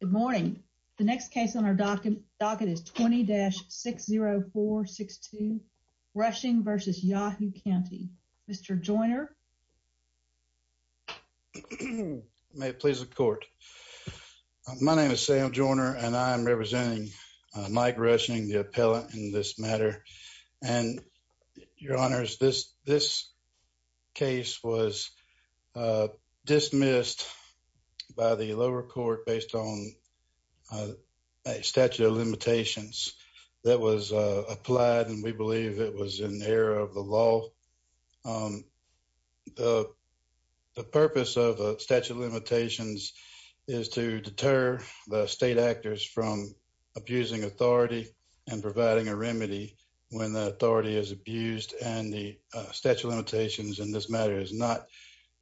Good morning. The next case on our docket is 20-60462 Rushing v. Yazoo Cty. Mr. Joyner. May it please the court. My name is Sam Joyner and I am representing Mike Rushing, the appellant in this matter. And your honors, this case was dismissed by the lower court based on a statute of limitations that was applied and we believe it was in error of the law. The purpose of a statute of limitations is to deter the state actors from abusing authority and providing a remedy when the authority is abused and the statute of limitations in this matter is not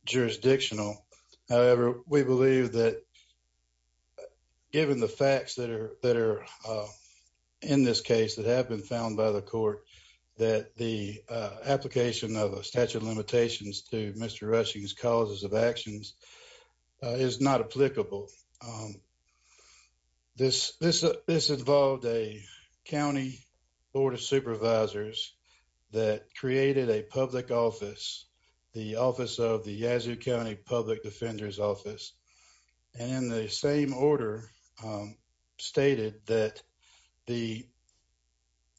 jurisdictional. However, we believe that given the facts that are in this case that have been found by the court that the application of a statute of limitations to Mr. Rushing's causes of actions is not applicable. This involved a county board of supervisors that created a public office, the office of the Yazoo County Public Defenders Office, and in the same order stated that the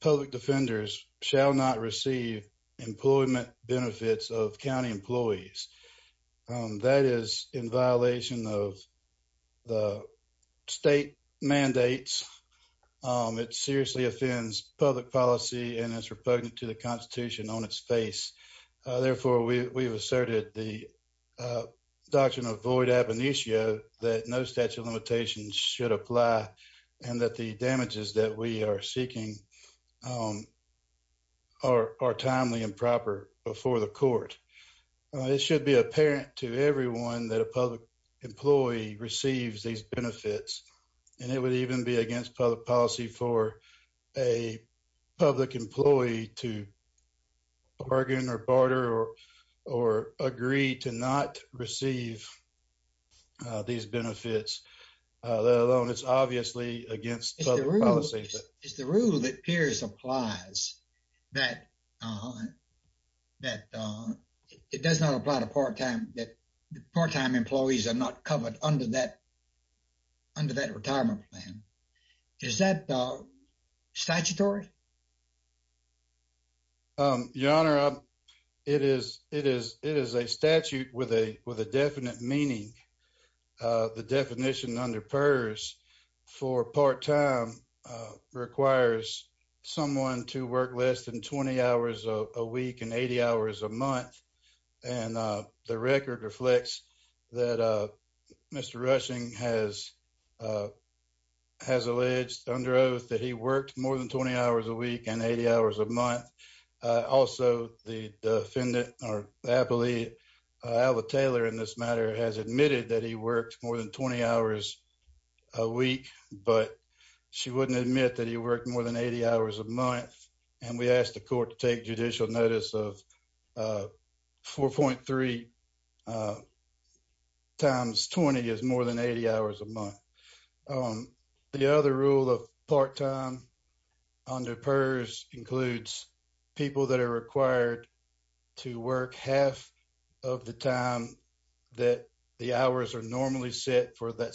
public defenders shall not receive employment benefits of county employees. That is in violation of the state mandates. It seriously offends public policy and is repugnant to the Constitution on its face. Therefore, we have asserted the doctrine of void ab initio that no statute of limitations should apply and that the damages that we are seeking are timely and proper before the court. It should be apparent to everyone that a public employee receives these benefits and it would even be against public policy for a public employee to bargain or barter or agree to not receive these benefits, let alone it's obviously against public policy. It's the rule that appears applies that it does not apply to part-time that covered under that retirement plan. Is that statutory? Your Honor, it is a statute with a definite meaning. The definition under PERS for part-time requires someone to work less than 20 hours a week and 80 hours a month. And the record reflects that Mr. Rushing has alleged under oath that he worked more than 20 hours a week and 80 hours a month. Also, the defendant or appellee, Alva Taylor in this matter, has admitted that he worked more than 20 hours a week, but she wouldn't admit that he worked more than 80 hours a month. And we asked the court to take judicial notice of 4.3 times 20 is more than 80 hours a month. The other rule of part-time under PERS includes people that are required to work half of the time that the hours are normally set for that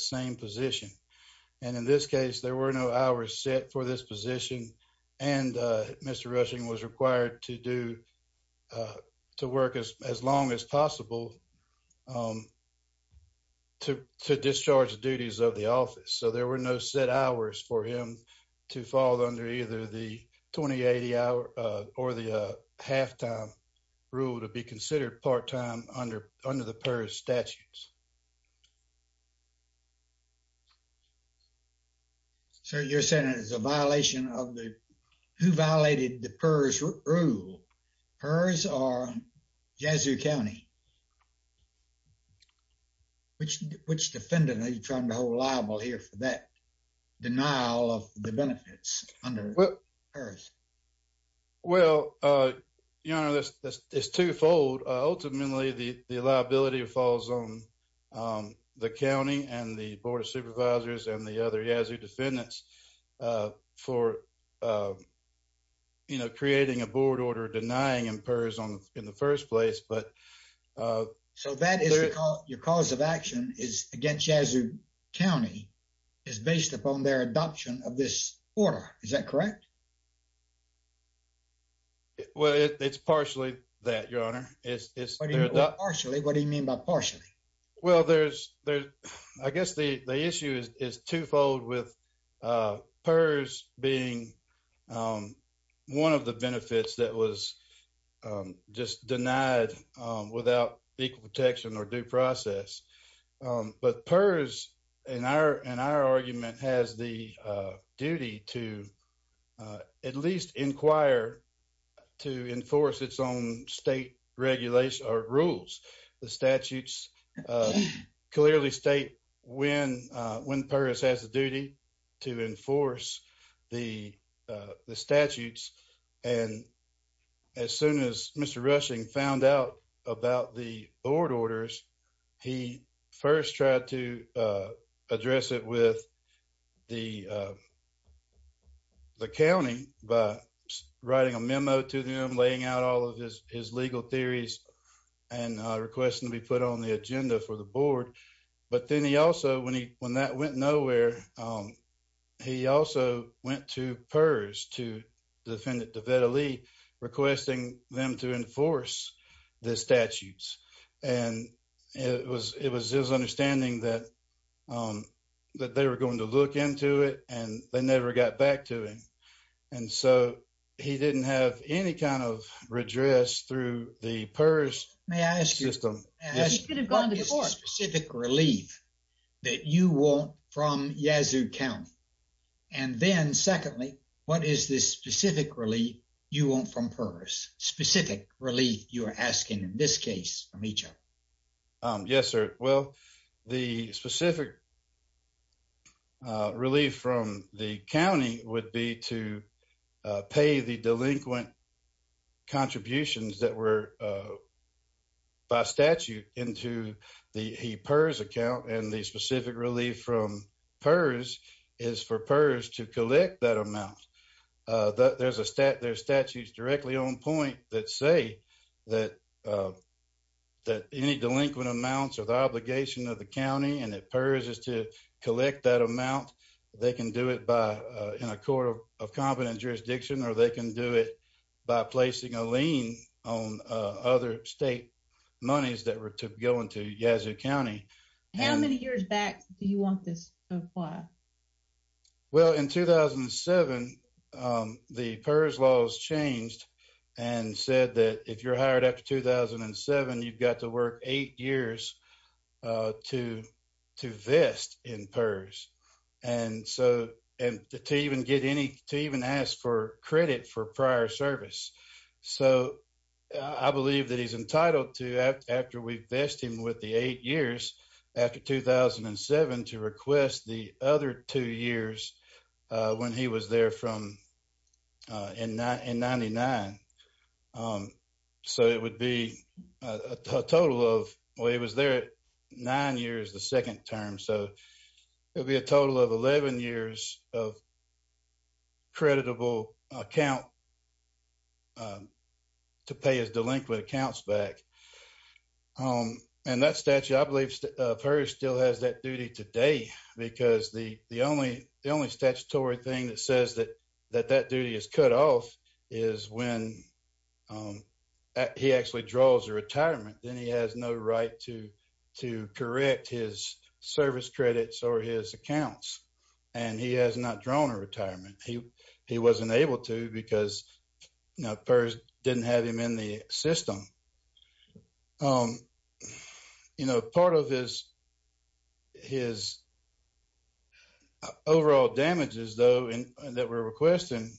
Mr. Rushing was required to do to work as long as possible to discharge the duties of the office. So there were no set hours for him to fall under either the 20, 80 hour or the half-time rule to be considered part-time under the PERS statutes. Sir, you're saying it's a violation of the, who violated the PERS rule, PERS or Jasu County? Which defendant are you trying to hold liable here for that denial of the benefits under PERS? Well, your honor, it's twofold. Ultimately, the liability falls on the County and the Board of Supervisors and the other Jasu defendants for creating a board order denying in PERS in the first place, but- So that is your cause of action is against Jasu County is based upon their adoption of this order. Is that correct? Well, it's partially that your honor. It's- Partially, what do you mean by partially? Well, there's, I guess the issue is twofold with PERS being one of the benefits that was just denied without equal protection or due process. But PERS in our argument has the rules. The statutes clearly state when PERS has the duty to enforce the statutes. And as soon as Mr. Rushing found out about the board orders, he first tried to address it with the county by writing a memo to them, laying out all of his legal theories, and requesting to be put on the agenda for the board. But then he also, when that went nowhere, he also went to PERS to defendant Devetta Lee, requesting them to enforce the statutes. And it was his understanding that they were going to look into it and they never got back to him. And so he didn't have any kind of redress through the PERS system. May I ask you, what is the specific relief that you want from Jasu County? And then secondly, what is the specific relief you want from PERS? Specific relief you are asking in this case? Yes, sir. Well, the specific relief from the county would be to pay the delinquent contributions that were by statute into the PERS account. And the specific relief from the county would be to pay the delinquent amount. There are statutes directly on point that say that any delinquent amounts are the obligation of the county and that PERS is to collect that amount. They can do it in a court of competent jurisdiction or they can do it by placing a lien on other state monies that were to go into Jasu County. How many years back do you want this to be? Well, in 2007, the PERS laws changed and said that if you're hired after 2007, you've got to work eight years to vest in PERS and to even ask for credit for prior service. So, I believe that he's entitled to, after we've vested him with the eight years after 2007, to request the other two years when he was there in 1999. So, it would be a total of nine years the second term. So, it would be a total of 11 years of creditable account to pay his delinquent accounts back. And that statute, I believe, PERS still has that duty today because the only statutory thing that says that that duty is cut off is when he actually draws a retirement. Then he has no right to correct his service credits or his accounts and he has not drawn a retirement. He wasn't able to because PERS didn't have him in the system. Part of his overall damages, though, that we're requesting,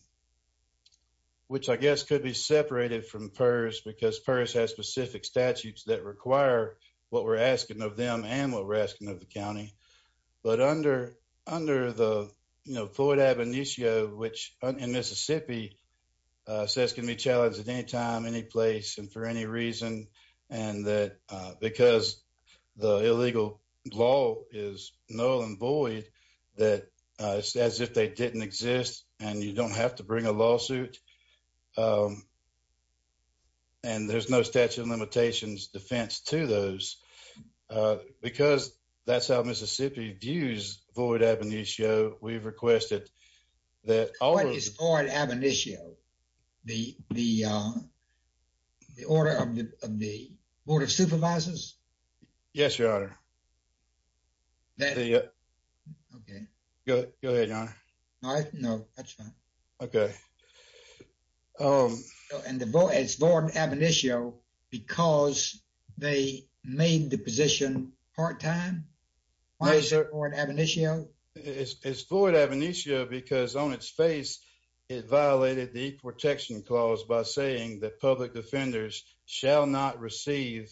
which I guess could be separated from PERS because PERS has specific statutes that require what we're asking of them and what we're asking of the county. But under the Floyd Ab initio, which in Mississippi says can be challenged at any time, any place, and for any reason, and that because the illegal law is null and void, as if they didn't exist and you don't have to bring a lawsuit, um, and there's no statute of limitations defense to those, uh, because that's how Mississippi views Floyd Ab initio, we've requested that- What is Floyd Ab initio? The, the, uh, the order of the, of the Board of Supervisors? Yes, Your Honor. That- Okay. Go, go ahead, Your Honor. No, that's fine. Okay. Um- And the, it's Floyd Ab initio because they made the position part-time? Why is it Floyd Ab initio? It's, it's Floyd Ab initio because on its face it violated the e-protection clause by saying that public defenders shall not receive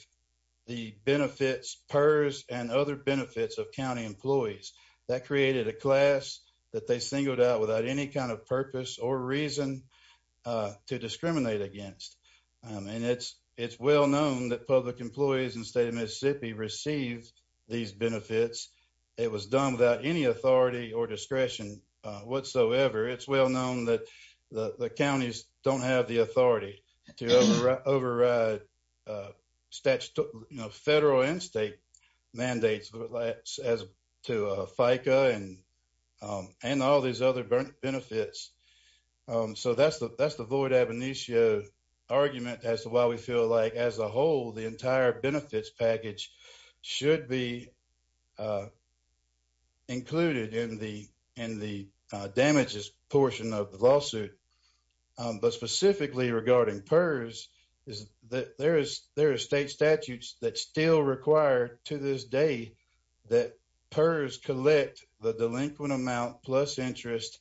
the benefits, PERS, and other benefits of county employees. That created a class that they singled out without any kind of purpose or reason, uh, to discriminate against. Um, and it's, it's well known that public employees in the state of Mississippi receive these benefits. It was done without any authority or discretion, uh, whatsoever. It's well known that the counties don't have the authority to override, uh, statu- you know, federal and state mandates as to, uh, FICA and, um, and all these other benefits. Um, so that's the, that's the Floyd Ab initio argument as to why we feel like as a whole the entire benefits package should be, uh, included in the, in the, uh, damages portion of the lawsuit. Um, but specifically regarding PERS is that there is, there are state statutes that still require to this day that PERS collect the delinquent amount plus interest,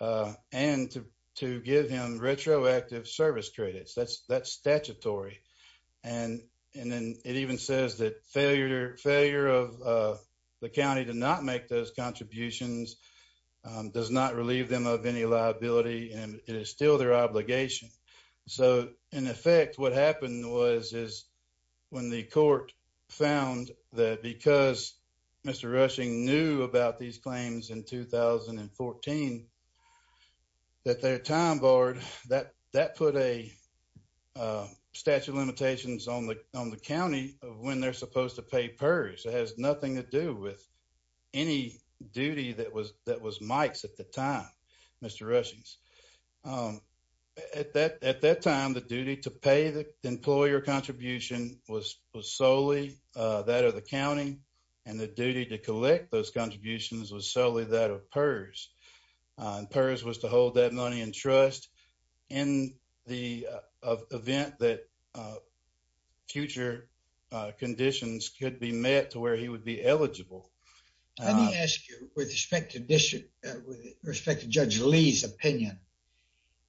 uh, and to, to give him retroactive service credits. That's, that's statutory. And, and then it even says that failure, failure of, uh, the county to not make those contributions, um, does not relieve them of any liability, and it is still their obligation. So, in effect, what happened was, is when the court found that because Mr. Rushing knew about these claims in 2014, that their time barred, that, that put a, uh, statute of limitations on the, on the county of when they're supposed to pay PERS. It has nothing to do with any duty that was, that was Mike's at the time, Mr. Rushing's. Um, at that, at that time, the duty to pay the employer contribution was, was solely, uh, that of the county, and the duty to collect those contributions was solely that of PERS. Uh, and PERS was to hold that money in trust in the, uh, event that, uh, future, uh, conditions could be met to where he would be eligible. Let me ask you, with respect to district, uh, with respect to Judge Lee's opinion,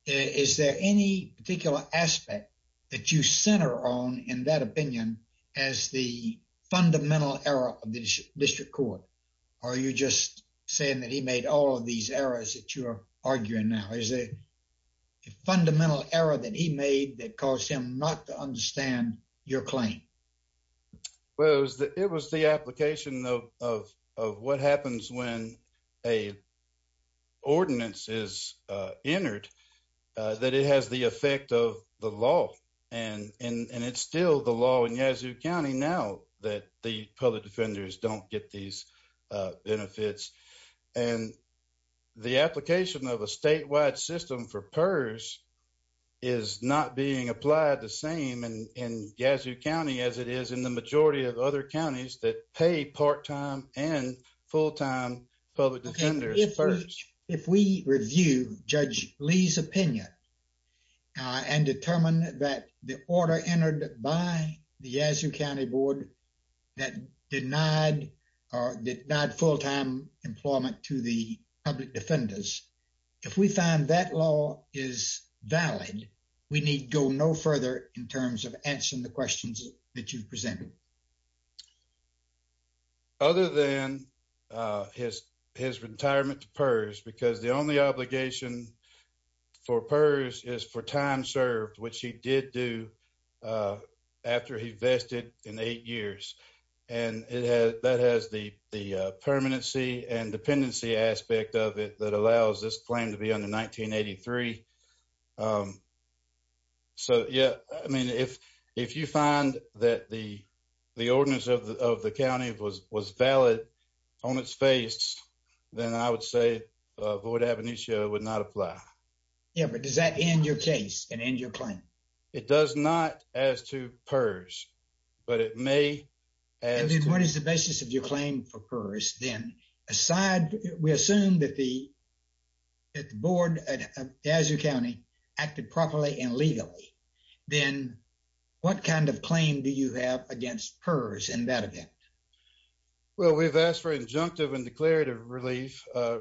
is there any particular aspect that you center on in that opinion as the fundamental error of the district court? Or are you just saying that he made all of these errors that you're arguing now? Is there a fundamental error that he made that caused him not to understand your claim? Well, it was the, it was the application of, of, of what happens when a ordinance is, uh, entered, that it has the effect of the law. And, and, and it's still the law in Yazoo County now that the public defenders don't get these, uh, benefits. And the application of a statewide system for PERS is not being applied the same in, in Yazoo County as it is in the majority of other counties that pay part-time and full-time public defenders PERS. If we review Judge Lee's opinion, uh, and determine that the order entered by the Yazoo County Board that denied, or denied full-time employment to the public defenders, if we find that law is valid, we need go no further in terms of answering the questions that you've presented. Other than, uh, his, his retirement to PERS, because the only obligation for PERS is for time served, which he did do, uh, after he vested in eight years. And it has, that has the, the, uh, permanency and dependency aspect of it that allows this claim to be under 1983. Um, so yeah, I mean, if, if you find that the, the ordinance of the, of the county was, was valid on its face, then I would say, uh, void ab initio would not apply. Yeah, but does that end your case and end your claim? It does not as to PERS, but it may. And then what is the basis of your claim for PERS then? Aside, we assume that the, that the board at, at Yazoo County acted properly and legally, then what kind of claim do you have against PERS in that event? Well, we've asked for injunctive and declarative relief, uh,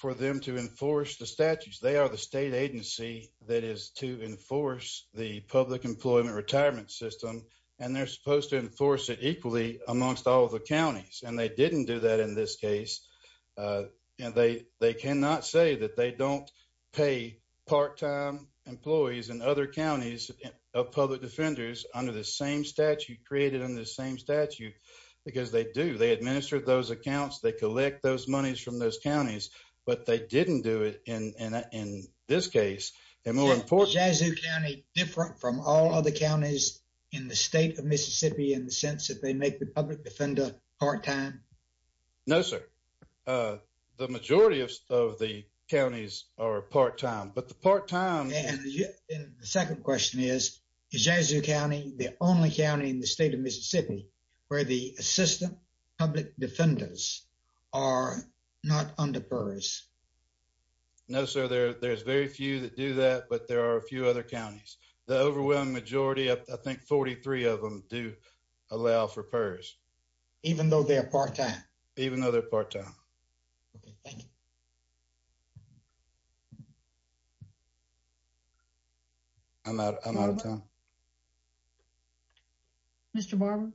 for them to enforce the statutes. They are the state agency that is to enforce the public employment retirement system. And they're supposed to enforce it equally amongst all of the counties. And they didn't do that in this case. Uh, and they, they cannot say that they don't pay part-time employees in other counties of public defenders under the same statute created on the same statute, because they do. They administer those accounts. They collect those monies from those counties, but they didn't do it in, in, in this case. And more importantly, Is Yazoo County different from all other counties in the state of Mississippi in the sense that they make the public defender part-time? No, sir. Uh, the majority of, of the counties are part-time, but the part-time... And the second question is, is Yazoo County the only county in the state of Mississippi where the assistant public defenders are not under PERS? No, sir. There, there's very few that do that, but there are a few other counties. The overwhelming majority, I think 43 of them do allow for PERS. Even though they're part-time? Even though they're part-time. Okay, thank you. I'm out, I'm out of time. Mr. Barber?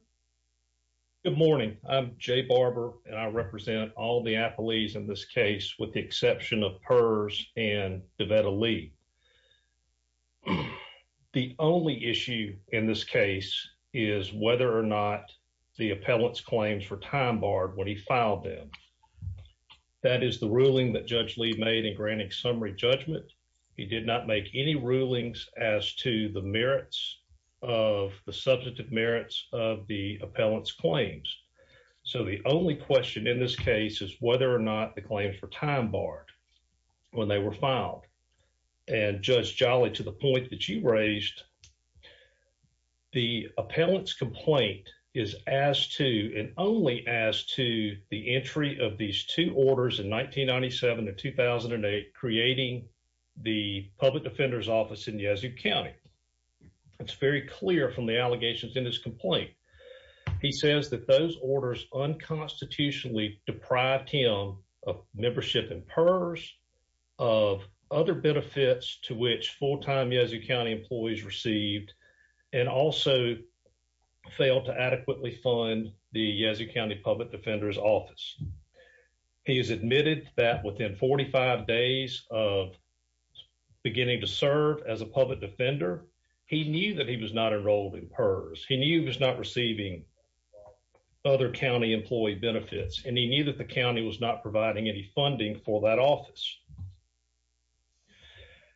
Good morning. I'm Jay Barber, and I represent all the appellees in this case, with the exception of PERS and Devetta Lee. The only issue in this case is whether or not the appellant's when he filed them. That is the ruling that Judge Lee made in granting summary judgment. He did not make any rulings as to the merits of, the substantive merits of the appellant's claims. So the only question in this case is whether or not the claim for time barred when they were filed. And Judge Jolly, to the point that you raised, the appellant's complaint is as to, and only as to, the entry of these two orders in 1997 to 2008, creating the Public Defender's Office in Yazoo County. It's very clear from the allegations in his complaint. He says that those orders unconstitutionally deprived him of membership in PERS, of other benefits to which full-time Yazoo County employees received, and also failed to adequately fund the Yazoo County Public Defender's Office. He has admitted that within 45 days of beginning to serve as a public defender, he knew that he was not enrolled in PERS. He knew he was not receiving other county employee benefits, and he knew that the county was not providing any funding for that office.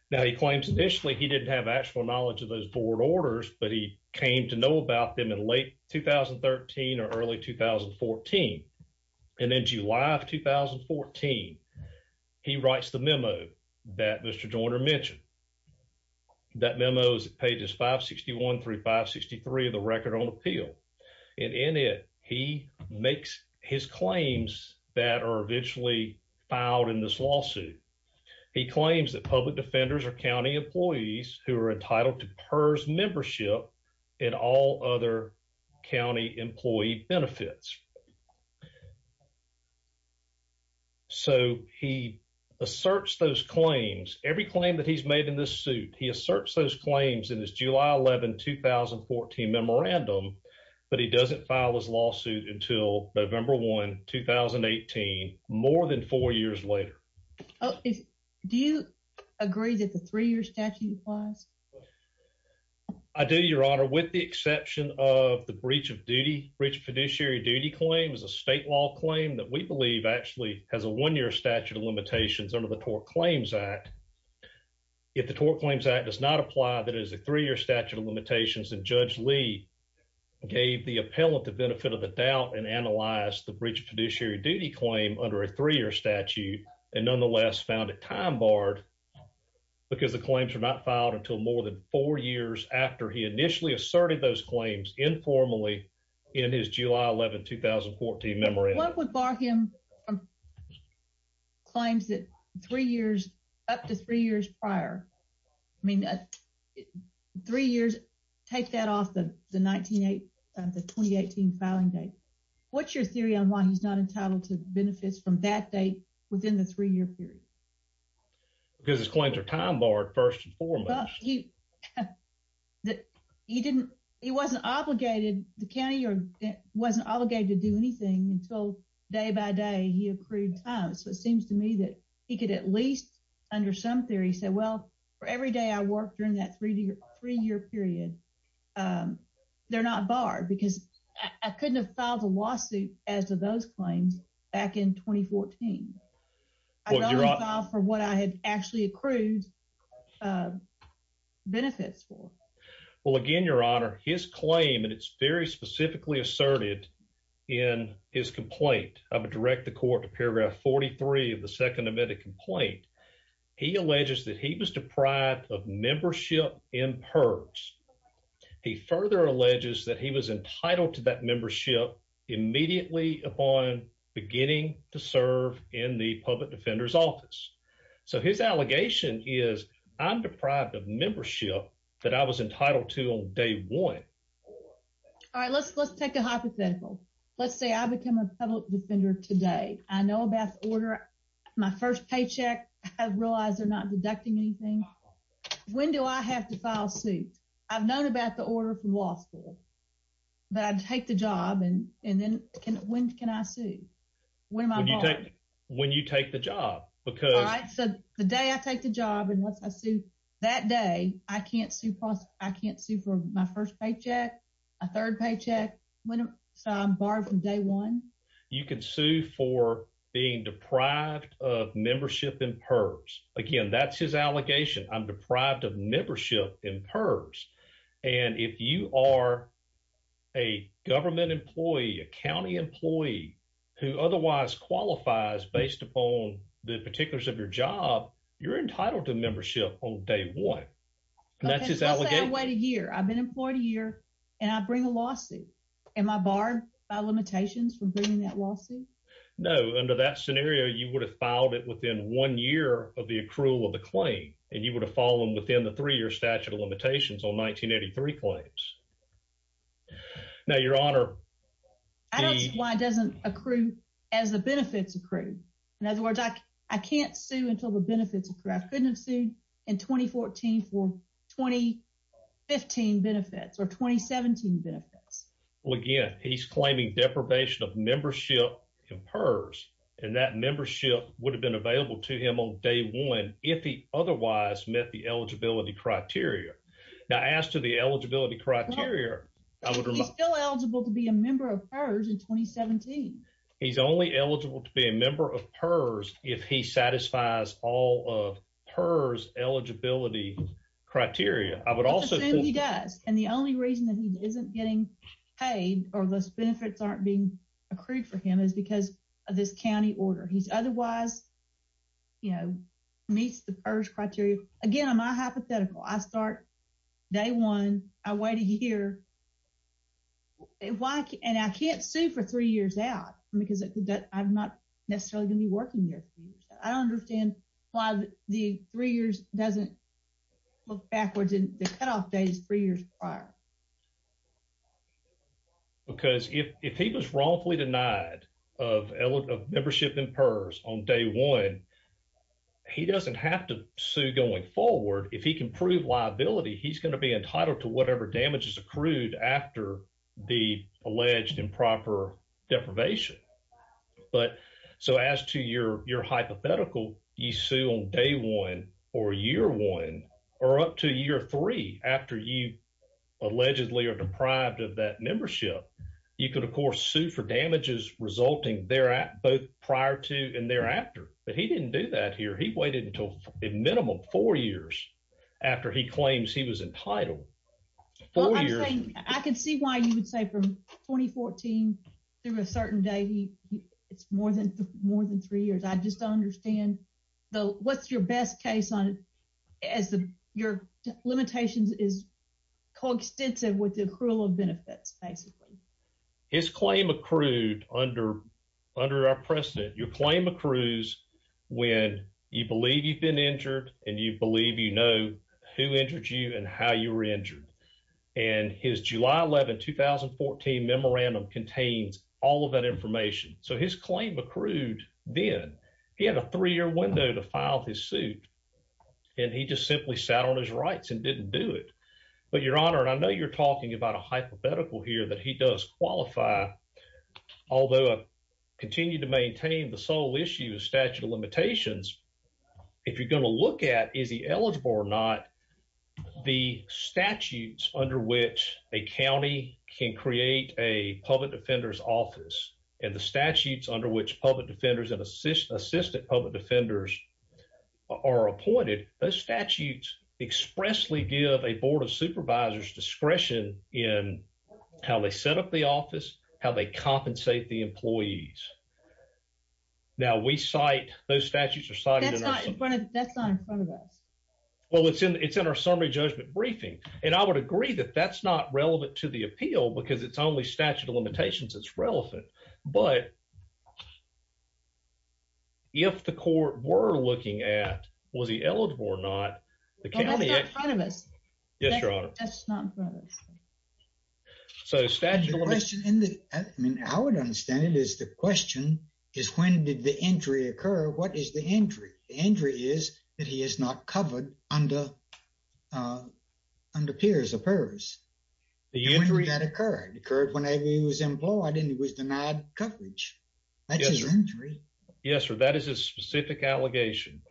Now he claims initially he didn't have actual knowledge of those board orders, but he came to know about them in late 2013 or early 2014. And in July of 2014, he writes the memo that Mr. Joyner mentioned. That memo is pages 561 through 563 of the Record on Appeal. And in it, he makes his claims that are eventually filed in this lawsuit. He claims that public defenders are county employees who are entitled to PERS membership in all other county employee benefits. So he asserts those claims, every claim that he's made in this suit, he asserts those claims. But he doesn't file his lawsuit until November 1, 2018, more than four years later. Do you agree that the three-year statute applies? I do, Your Honor, with the exception of the breach of duty. Breach of fiduciary duty claim is a state law claim that we believe actually has a one-year statute of limitations under the Tort Claims Act. If the Tort Claims Act does not apply, that is a three-year statute of limitations, and Judge Lee gave the appellant the benefit of the doubt and analyzed the breach of fiduciary duty claim under a three-year statute and nonetheless found it time-barred because the claims were not filed until more than four years after he initially asserted those claims informally in his July 11, 2014 memorandum. What would bar him from claims that three years, up to three years prior, I mean three years, take that off the 2018 filing date. What's your theory on why he's not entitled to benefits from that date within the three-year period? Because his claims are time-barred first and foremost. He wasn't obligated, the county wasn't obligated to do anything until day by day he accrued time, so it seems to me that he could at least under some theory say, well, for every day I worked during that three-year period, they're not barred because I couldn't have filed a lawsuit as to those claims back in 2014. I'd only filed for what I had actually accrued benefits for. Well again, your honor, his claim, and it's very specifically asserted in his complaint, I would direct the court to paragraph 43 of the second amended complaint, he alleges that he was deprived of membership in PERS. He further alleges that he was entitled to that membership immediately upon beginning to serve in the public defender's office. So his allegation is, I'm deprived of membership that I was entitled to on day one. All right, let's let's take a hypothetical. Let's say I become a public defender today. I know about the order, my first paycheck, I realize they're not deducting anything. When do I have to file suit? I've known about the order from law school, but I take the job and and then when can I sue? When am I barred? When you take the job, because... All right, so the day I take the job and once I sue that day, I can't sue for my first paycheck, a third paycheck, so I'm barred from day one. You can sue for being deprived of membership in PERS. Again, that's his allegation. I'm deprived of membership in PERS, and if you are a government employee, a county employee who otherwise qualifies based upon the particulars of your job, you're entitled to membership on day one. That's his allegation. Let's say I wait a year. I've been employed a year and I bring a lawsuit. Am I barred by limitations from bringing that lawsuit? No. Under that scenario, you would have filed it within one year of the accrual of the claim, and you would have fallen within the three-year statute of limitations on 1983 claims. Now, Your Honor... I don't see why it doesn't accrue as the benefits accrue. In other words, I can't sue until the benefits accrue. I couldn't have sued in 2014 for 2015 benefits or 2017 benefits. Well, again, he's claiming deprivation of membership in PERS, and that membership would have been available to him on day one if he otherwise met the eligibility criteria. Now, as to the eligibility criteria... He's still eligible to be a member of PERS in 2017. He's only eligible to be a member of PERS if he satisfies all of PERS eligibility criteria. I would also... He does, and the only reason that he isn't getting paid or those benefits aren't being accrued for him is because of this county order. He's otherwise, you know, meets the PERS criteria. Again, I'm not hypothetical. I start day one. I wait a year. And I can't sue for three years out because I'm not necessarily going to be working there. I don't understand why the three years doesn't look backwards. The cutoff date is three years prior. Because if he was wrongfully denied of membership in PERS on day one, he doesn't have to sue going forward. If he can prove liability, he's going to be entitled to whatever damage is accrued after the alleged improper deprivation. But so as to your hypothetical, you sue on day one or year one or up to year three after you allegedly are deprived of that membership. You could, of course, sue for damages resulting there at both prior to and thereafter. But he didn't do that here. He waited until a minimum four years after he claims he was entitled. I could see why you would say from 2014 through a certain day, it's more than more than three years. I just don't understand what's your best case on it as your limitations is coextensive with the accrual of benefits, basically. His claim accrued under our precedent, your claim accrues when you believe you've been injured and you believe you know who injured you and how you were injured. And his July 11, 2014 memorandum contains all of that information. So his claim accrued then. He had a three year window to file his suit and he just simply sat on his rights and didn't do it. But your honor, and I know you're talking about a hypothetical here that he does qualify, although I continue to maintain the sole issue of statute of limitations. If you're going to look at is he eligible or not, the statutes under which a county can create a which public defenders and assistant public defenders are appointed, those statutes expressly give a board of supervisors discretion in how they set up the office, how they compensate the employees. Now we cite those statutes are cited in front of us. Well, it's in it's in our summary judgment briefing. And I would agree that that's not relevant to the appeal because it's only statute of limitations that's relevant. But. If the court were looking at was he eligible or not, the county in front of us. Yes, your honor. That's not. So statute question in the I mean, I would understand it is the question is when did the injury occur? What is the injury? The injury is that he is not covered under under PERS or PERS. The injury that occurred occurred whenever he was employed and he was denied coverage. That's his injury. Yes, sir. That is a specific allegation.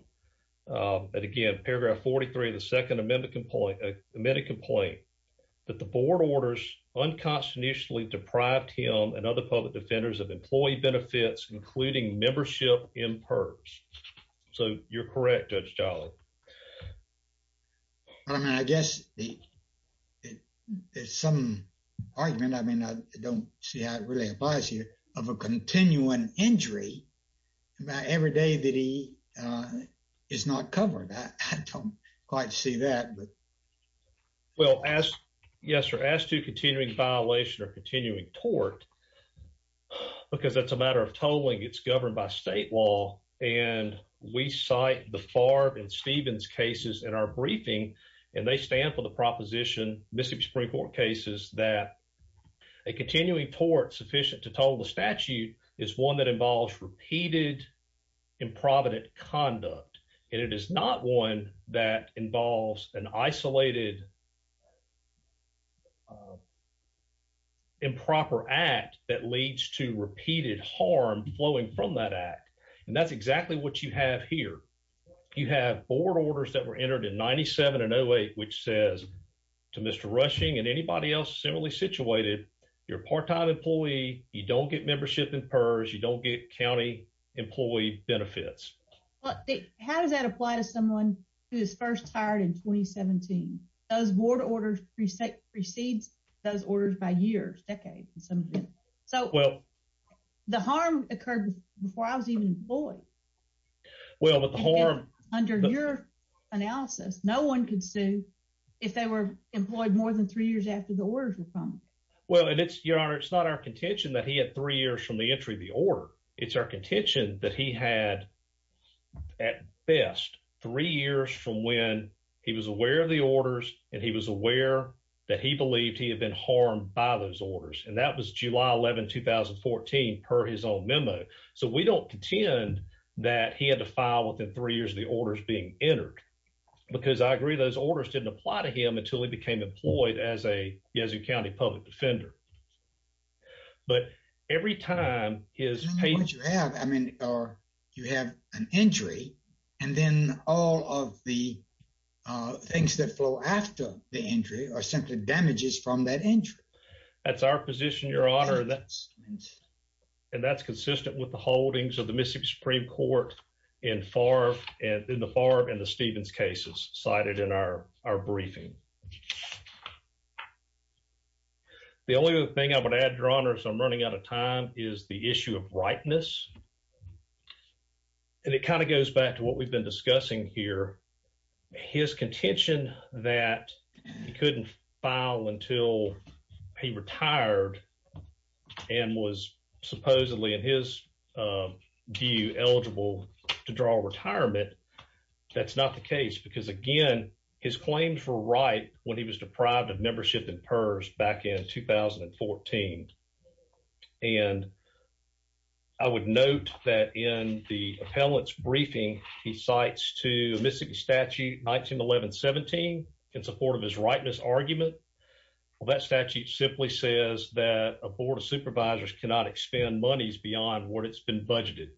But again, paragraph 43 of the Second Amendment, a minute complaint that the board orders unconstitutionally deprived him and other public defenders of employee benefits, including membership in PERS. So you're correct, Judge Jolly. I mean, I guess it is some argument. I mean, I don't see I really advise you of a continuing injury every day that he is not covered. I don't quite see that. Well, as yes, you're asked to continuing violation or continuing tort because that's a matter of tolling. It's governed by state law. And we cite the Farb and Stevens cases in our briefing, and they stand for the proposition, Mississippi Supreme Court cases, that a continuing tort sufficient to total the statute is one that involves repeated improper conduct. And it is not one that involves an isolated. Improper act that leads to repeated harm flowing from that act, and that's exactly what you have here. You have board orders that were entered in 97 and 08, which says to Mr. Rushing and anybody else similarly situated your part time employee. You don't get membership in PERS. You don't get county employee benefits. How does that apply to someone who is first hired in 2017? Those board orders precedes those orders by years, decades. So well, the harm occurred before I was even employed. Well, but the harm under your analysis, no one could sue if they were employed more than three years after the orders were from. Well, and it's your honor. It's not our contention that he had three years from the entry of the order. It's our contention that he had at best three years from when he was aware of the orders and he was aware that he believed he had been harmed by those orders. And that was July 11, 2014 per his own memo. So we don't contend that he had to file within three years of the orders being entered because I agree those orders didn't apply to him until he became employed as a have. I mean, you have an injury and then all of the things that flow after the injury are simply damages from that injury. That's our position, your honor. And that's consistent with the holdings of the Mississippi Supreme Court in the Farb and the Stevens cases cited in our briefing. The only other thing I would add, your honor, as I'm running out of time, is the issue of rightness. And it kind of goes back to what we've been discussing here. His contention that he couldn't file until he retired and was supposedly, in his view, eligible to draw retirement. That's not the case because, again, his claims were right when he was deprived of membership in PERS back in 2014. And I would note that in the appellant's briefing, he cites to Mississippi Statute 1911-17 in support of his rightness argument. Well, that statute simply says that a board of supervisors cannot expend monies beyond what it's been budgeted.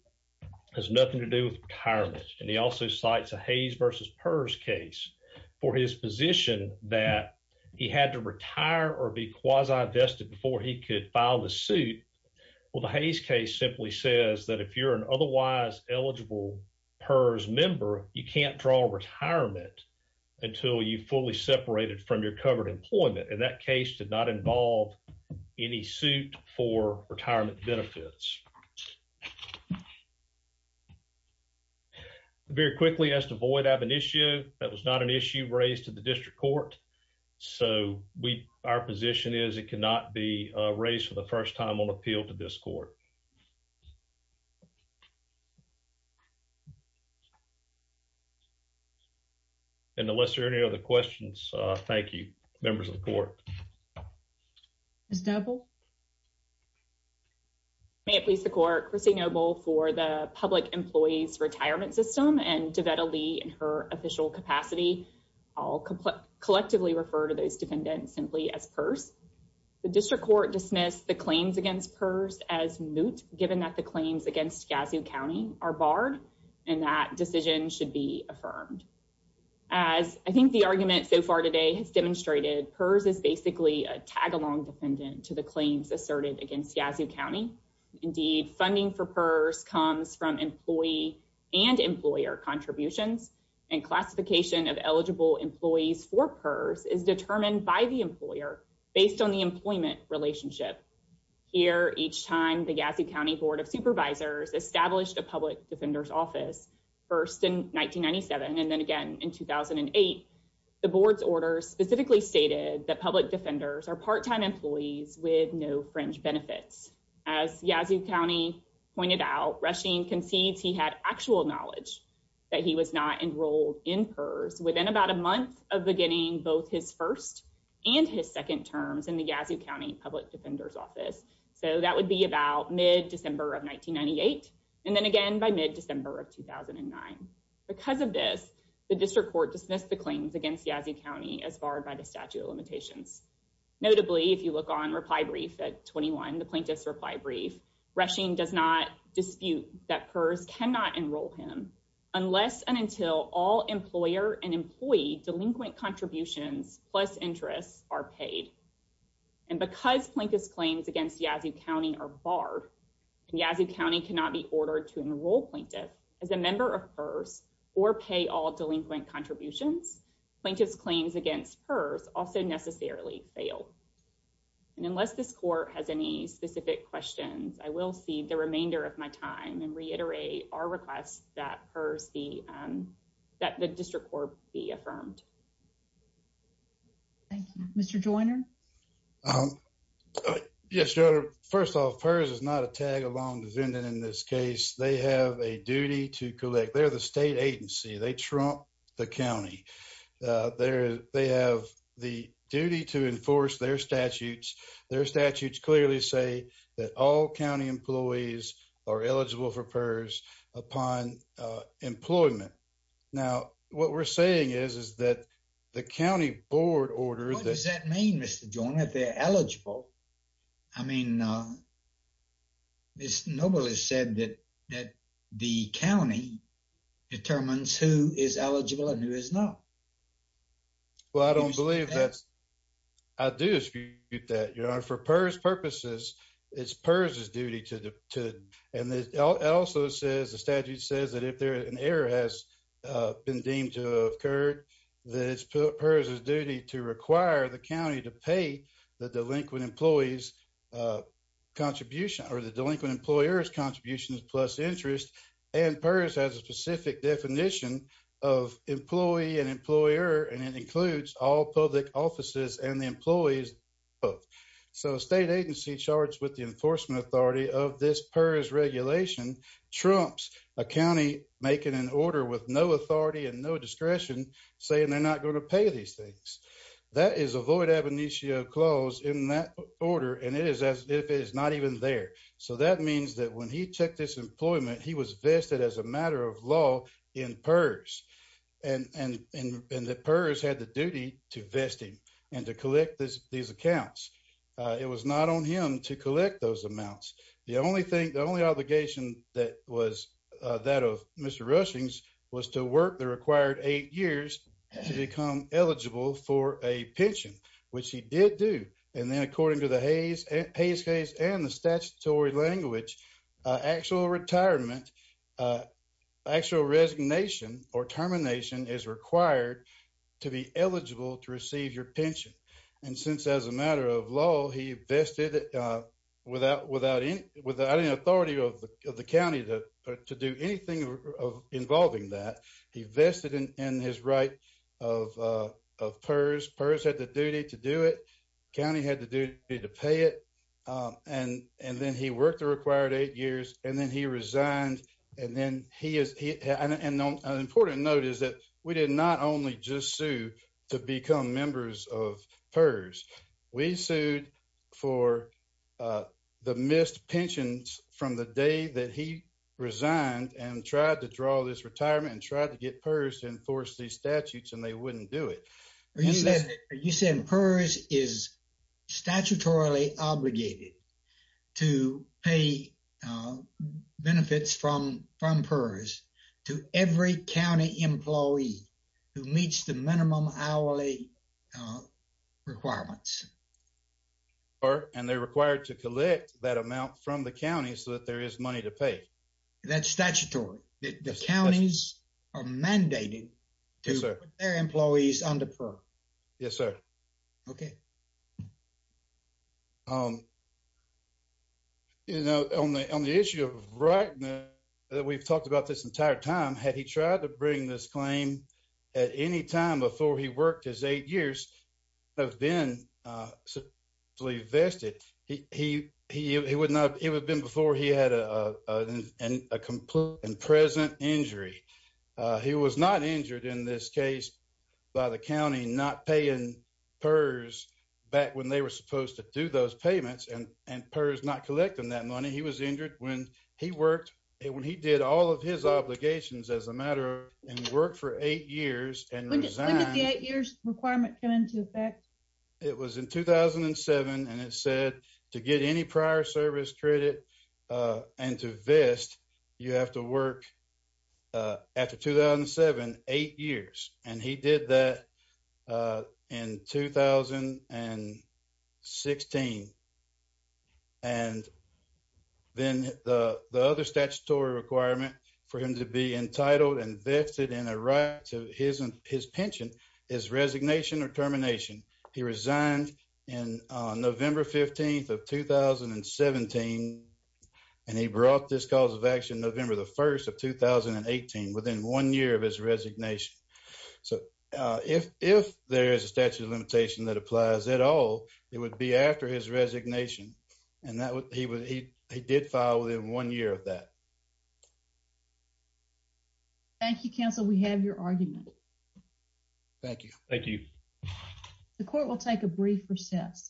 It has nothing to do with retirement. And he also cites a Hayes versus PERS case for his position that he had to retire or be quasi-vested before he could file the suit. Well, the Hayes case simply says that if you're an otherwise eligible PERS member, you can't draw retirement until you fully separated from your covered employment. And that case did not involve any suit for retirement benefits. Very quickly, as to Voight, I have an issue. That was not an issue raised to the district court. So, our position is it cannot be raised for the first time on appeal to this court. And unless there are any other questions, thank you, members of the court. Ms. Doeble? May it please the court, Christine Doeble for the Public Employees Retirement System, and Devetta Lee in her official capacity. I'll collectively refer to those defendants simply as PERS. The district court dismissed the claims against PERS as moot, given that the claims against Gassiw County are barred, and that decision should be affirmed. As I think the argument so far today has demonstrated, PERS is basically a tag-along defendant to the claim. Asserted against Gassiw County. Indeed, funding for PERS comes from employee and employer contributions and classification of eligible employees for PERS is determined by the employer based on the employment relationship. Here, each time the Gassiw County Board of Supervisors established a public defender's office, first in 1997, and then again in 2008, the board's orders specifically stated that public defenders are part-time employees with no fringe benefits. As Gassiw County pointed out, Rushing concedes he had actual knowledge that he was not enrolled in PERS within about a month of beginning both his first and his second terms in the Gassiw County Public Defender's Office. So that would be about mid December of 1998, and then again by mid December of 2009. Because of this, the district court dismissed the claims against Gassiw County as barred by the statute of limitations. Notably, if you look on reply brief at 21, the plaintiff's reply brief, Rushing does not dispute that PERS cannot enroll him unless and until all employer and employee delinquent contributions plus interests are paid. And because plaintiff's claims against Gassiw County are barred, and Gassiw County cannot be ordered to enroll plaintiff as a member of PERS or pay all delinquent contributions, plaintiff's claims against PERS also necessarily fail. And unless this court has any specific questions, I will cede the remainder of my time and reiterate our request that the district court be affirmed. Thank you. Mr. Joyner. Yes, Your Honor. First off, PERS is not a tag-along defendant in this case. They have a duty to collect. They're the state agency. They trump the county. They have the duty to enforce their statutes. Their statutes clearly say that all county employees are eligible for PERS upon employment. Now, what we're saying is that the county board ordered that- What does that mean, Mr. Joyner, if they're eligible? I mean, it's normally said that the county determines who is eligible and who is not. Well, I don't believe that's- I do dispute that, Your Honor. For PERS purposes, it's PERS' duty to- And it also says, the statute says that if an error has been deemed to occur, that it's PERS' duty to require the county to pay the delinquent employee's contribution or the delinquent employer's contributions plus interest. And PERS has a specific definition of employee and employer, and it includes all public offices and the employees. So, a state agency charged with the enforcement authority of this PERS regulation trumps a county making an order with no authority and no discretion saying they're not going to pay these things. That is a void ab initio clause in that order, and it is as if it is not even there. So, that means that when he checked his employment, he was vested as a matter of law in PERS, and the PERS had the duty to vest him and to collect these accounts. It was not on him to collect those amounts. The only thing- The only obligation that was- that of Mr. Rushings was to work the required eight years to become eligible for a pension, which he did do. And then, according to the Hays case and the statutory language, actual retirement- actual resignation or termination is required to be eligible to receive your pension. And since as a matter of law, he vested without any authority of the county to do anything involving that. He vested in his right of PERS. PERS had the duty to do it. The county had the duty to pay it, and then he worked the required eight years, and then he resigned, and then he is- And an important note is that we did not only just sue to become members of PERS. We sued for the missed pensions from the day that he resigned and tried to draw this retirement and tried to get PERS to enforce these statutes, and they wouldn't do it. You said that- You said PERS is statutorily obligated to pay benefits from PERS to every county employee who meets the minimum hourly requirements. And they're required to collect that amount from the county so that there is money to pay. That's statutory. The counties are mandated to put their employees under PERS. Yes, sir. Okay. You know, on the issue of right now that we've talked about this entire time, had he tried to bring this claim at any time before he worked his eight years, would have been supposedly vested. It would have been before he had a present injury. He was not injured in this case by the county not paying PERS back when they were supposed to do those payments and PERS not collecting that money. He was injured when he worked. When he did all of his obligations as a matter of- and worked for eight years and resigned- When did the eight years requirement come into effect? It was in 2007, and it said to get any prior service credit and to vest, you have to work after 2007, eight years. And he did that in 2016. And then the other statutory requirement for him to be entitled and vested in a right to his pension is resignation or termination. He resigned in November 15th of 2017, and he brought this cause of action November 1st of 2018 within one year of his resignation. So, if there is a statutory limitation that applies at all, it would be after his resignation. And he did file within one year of that. Thank you, counsel. We have your argument. Thank you. Thank you. The court will take a brief recess.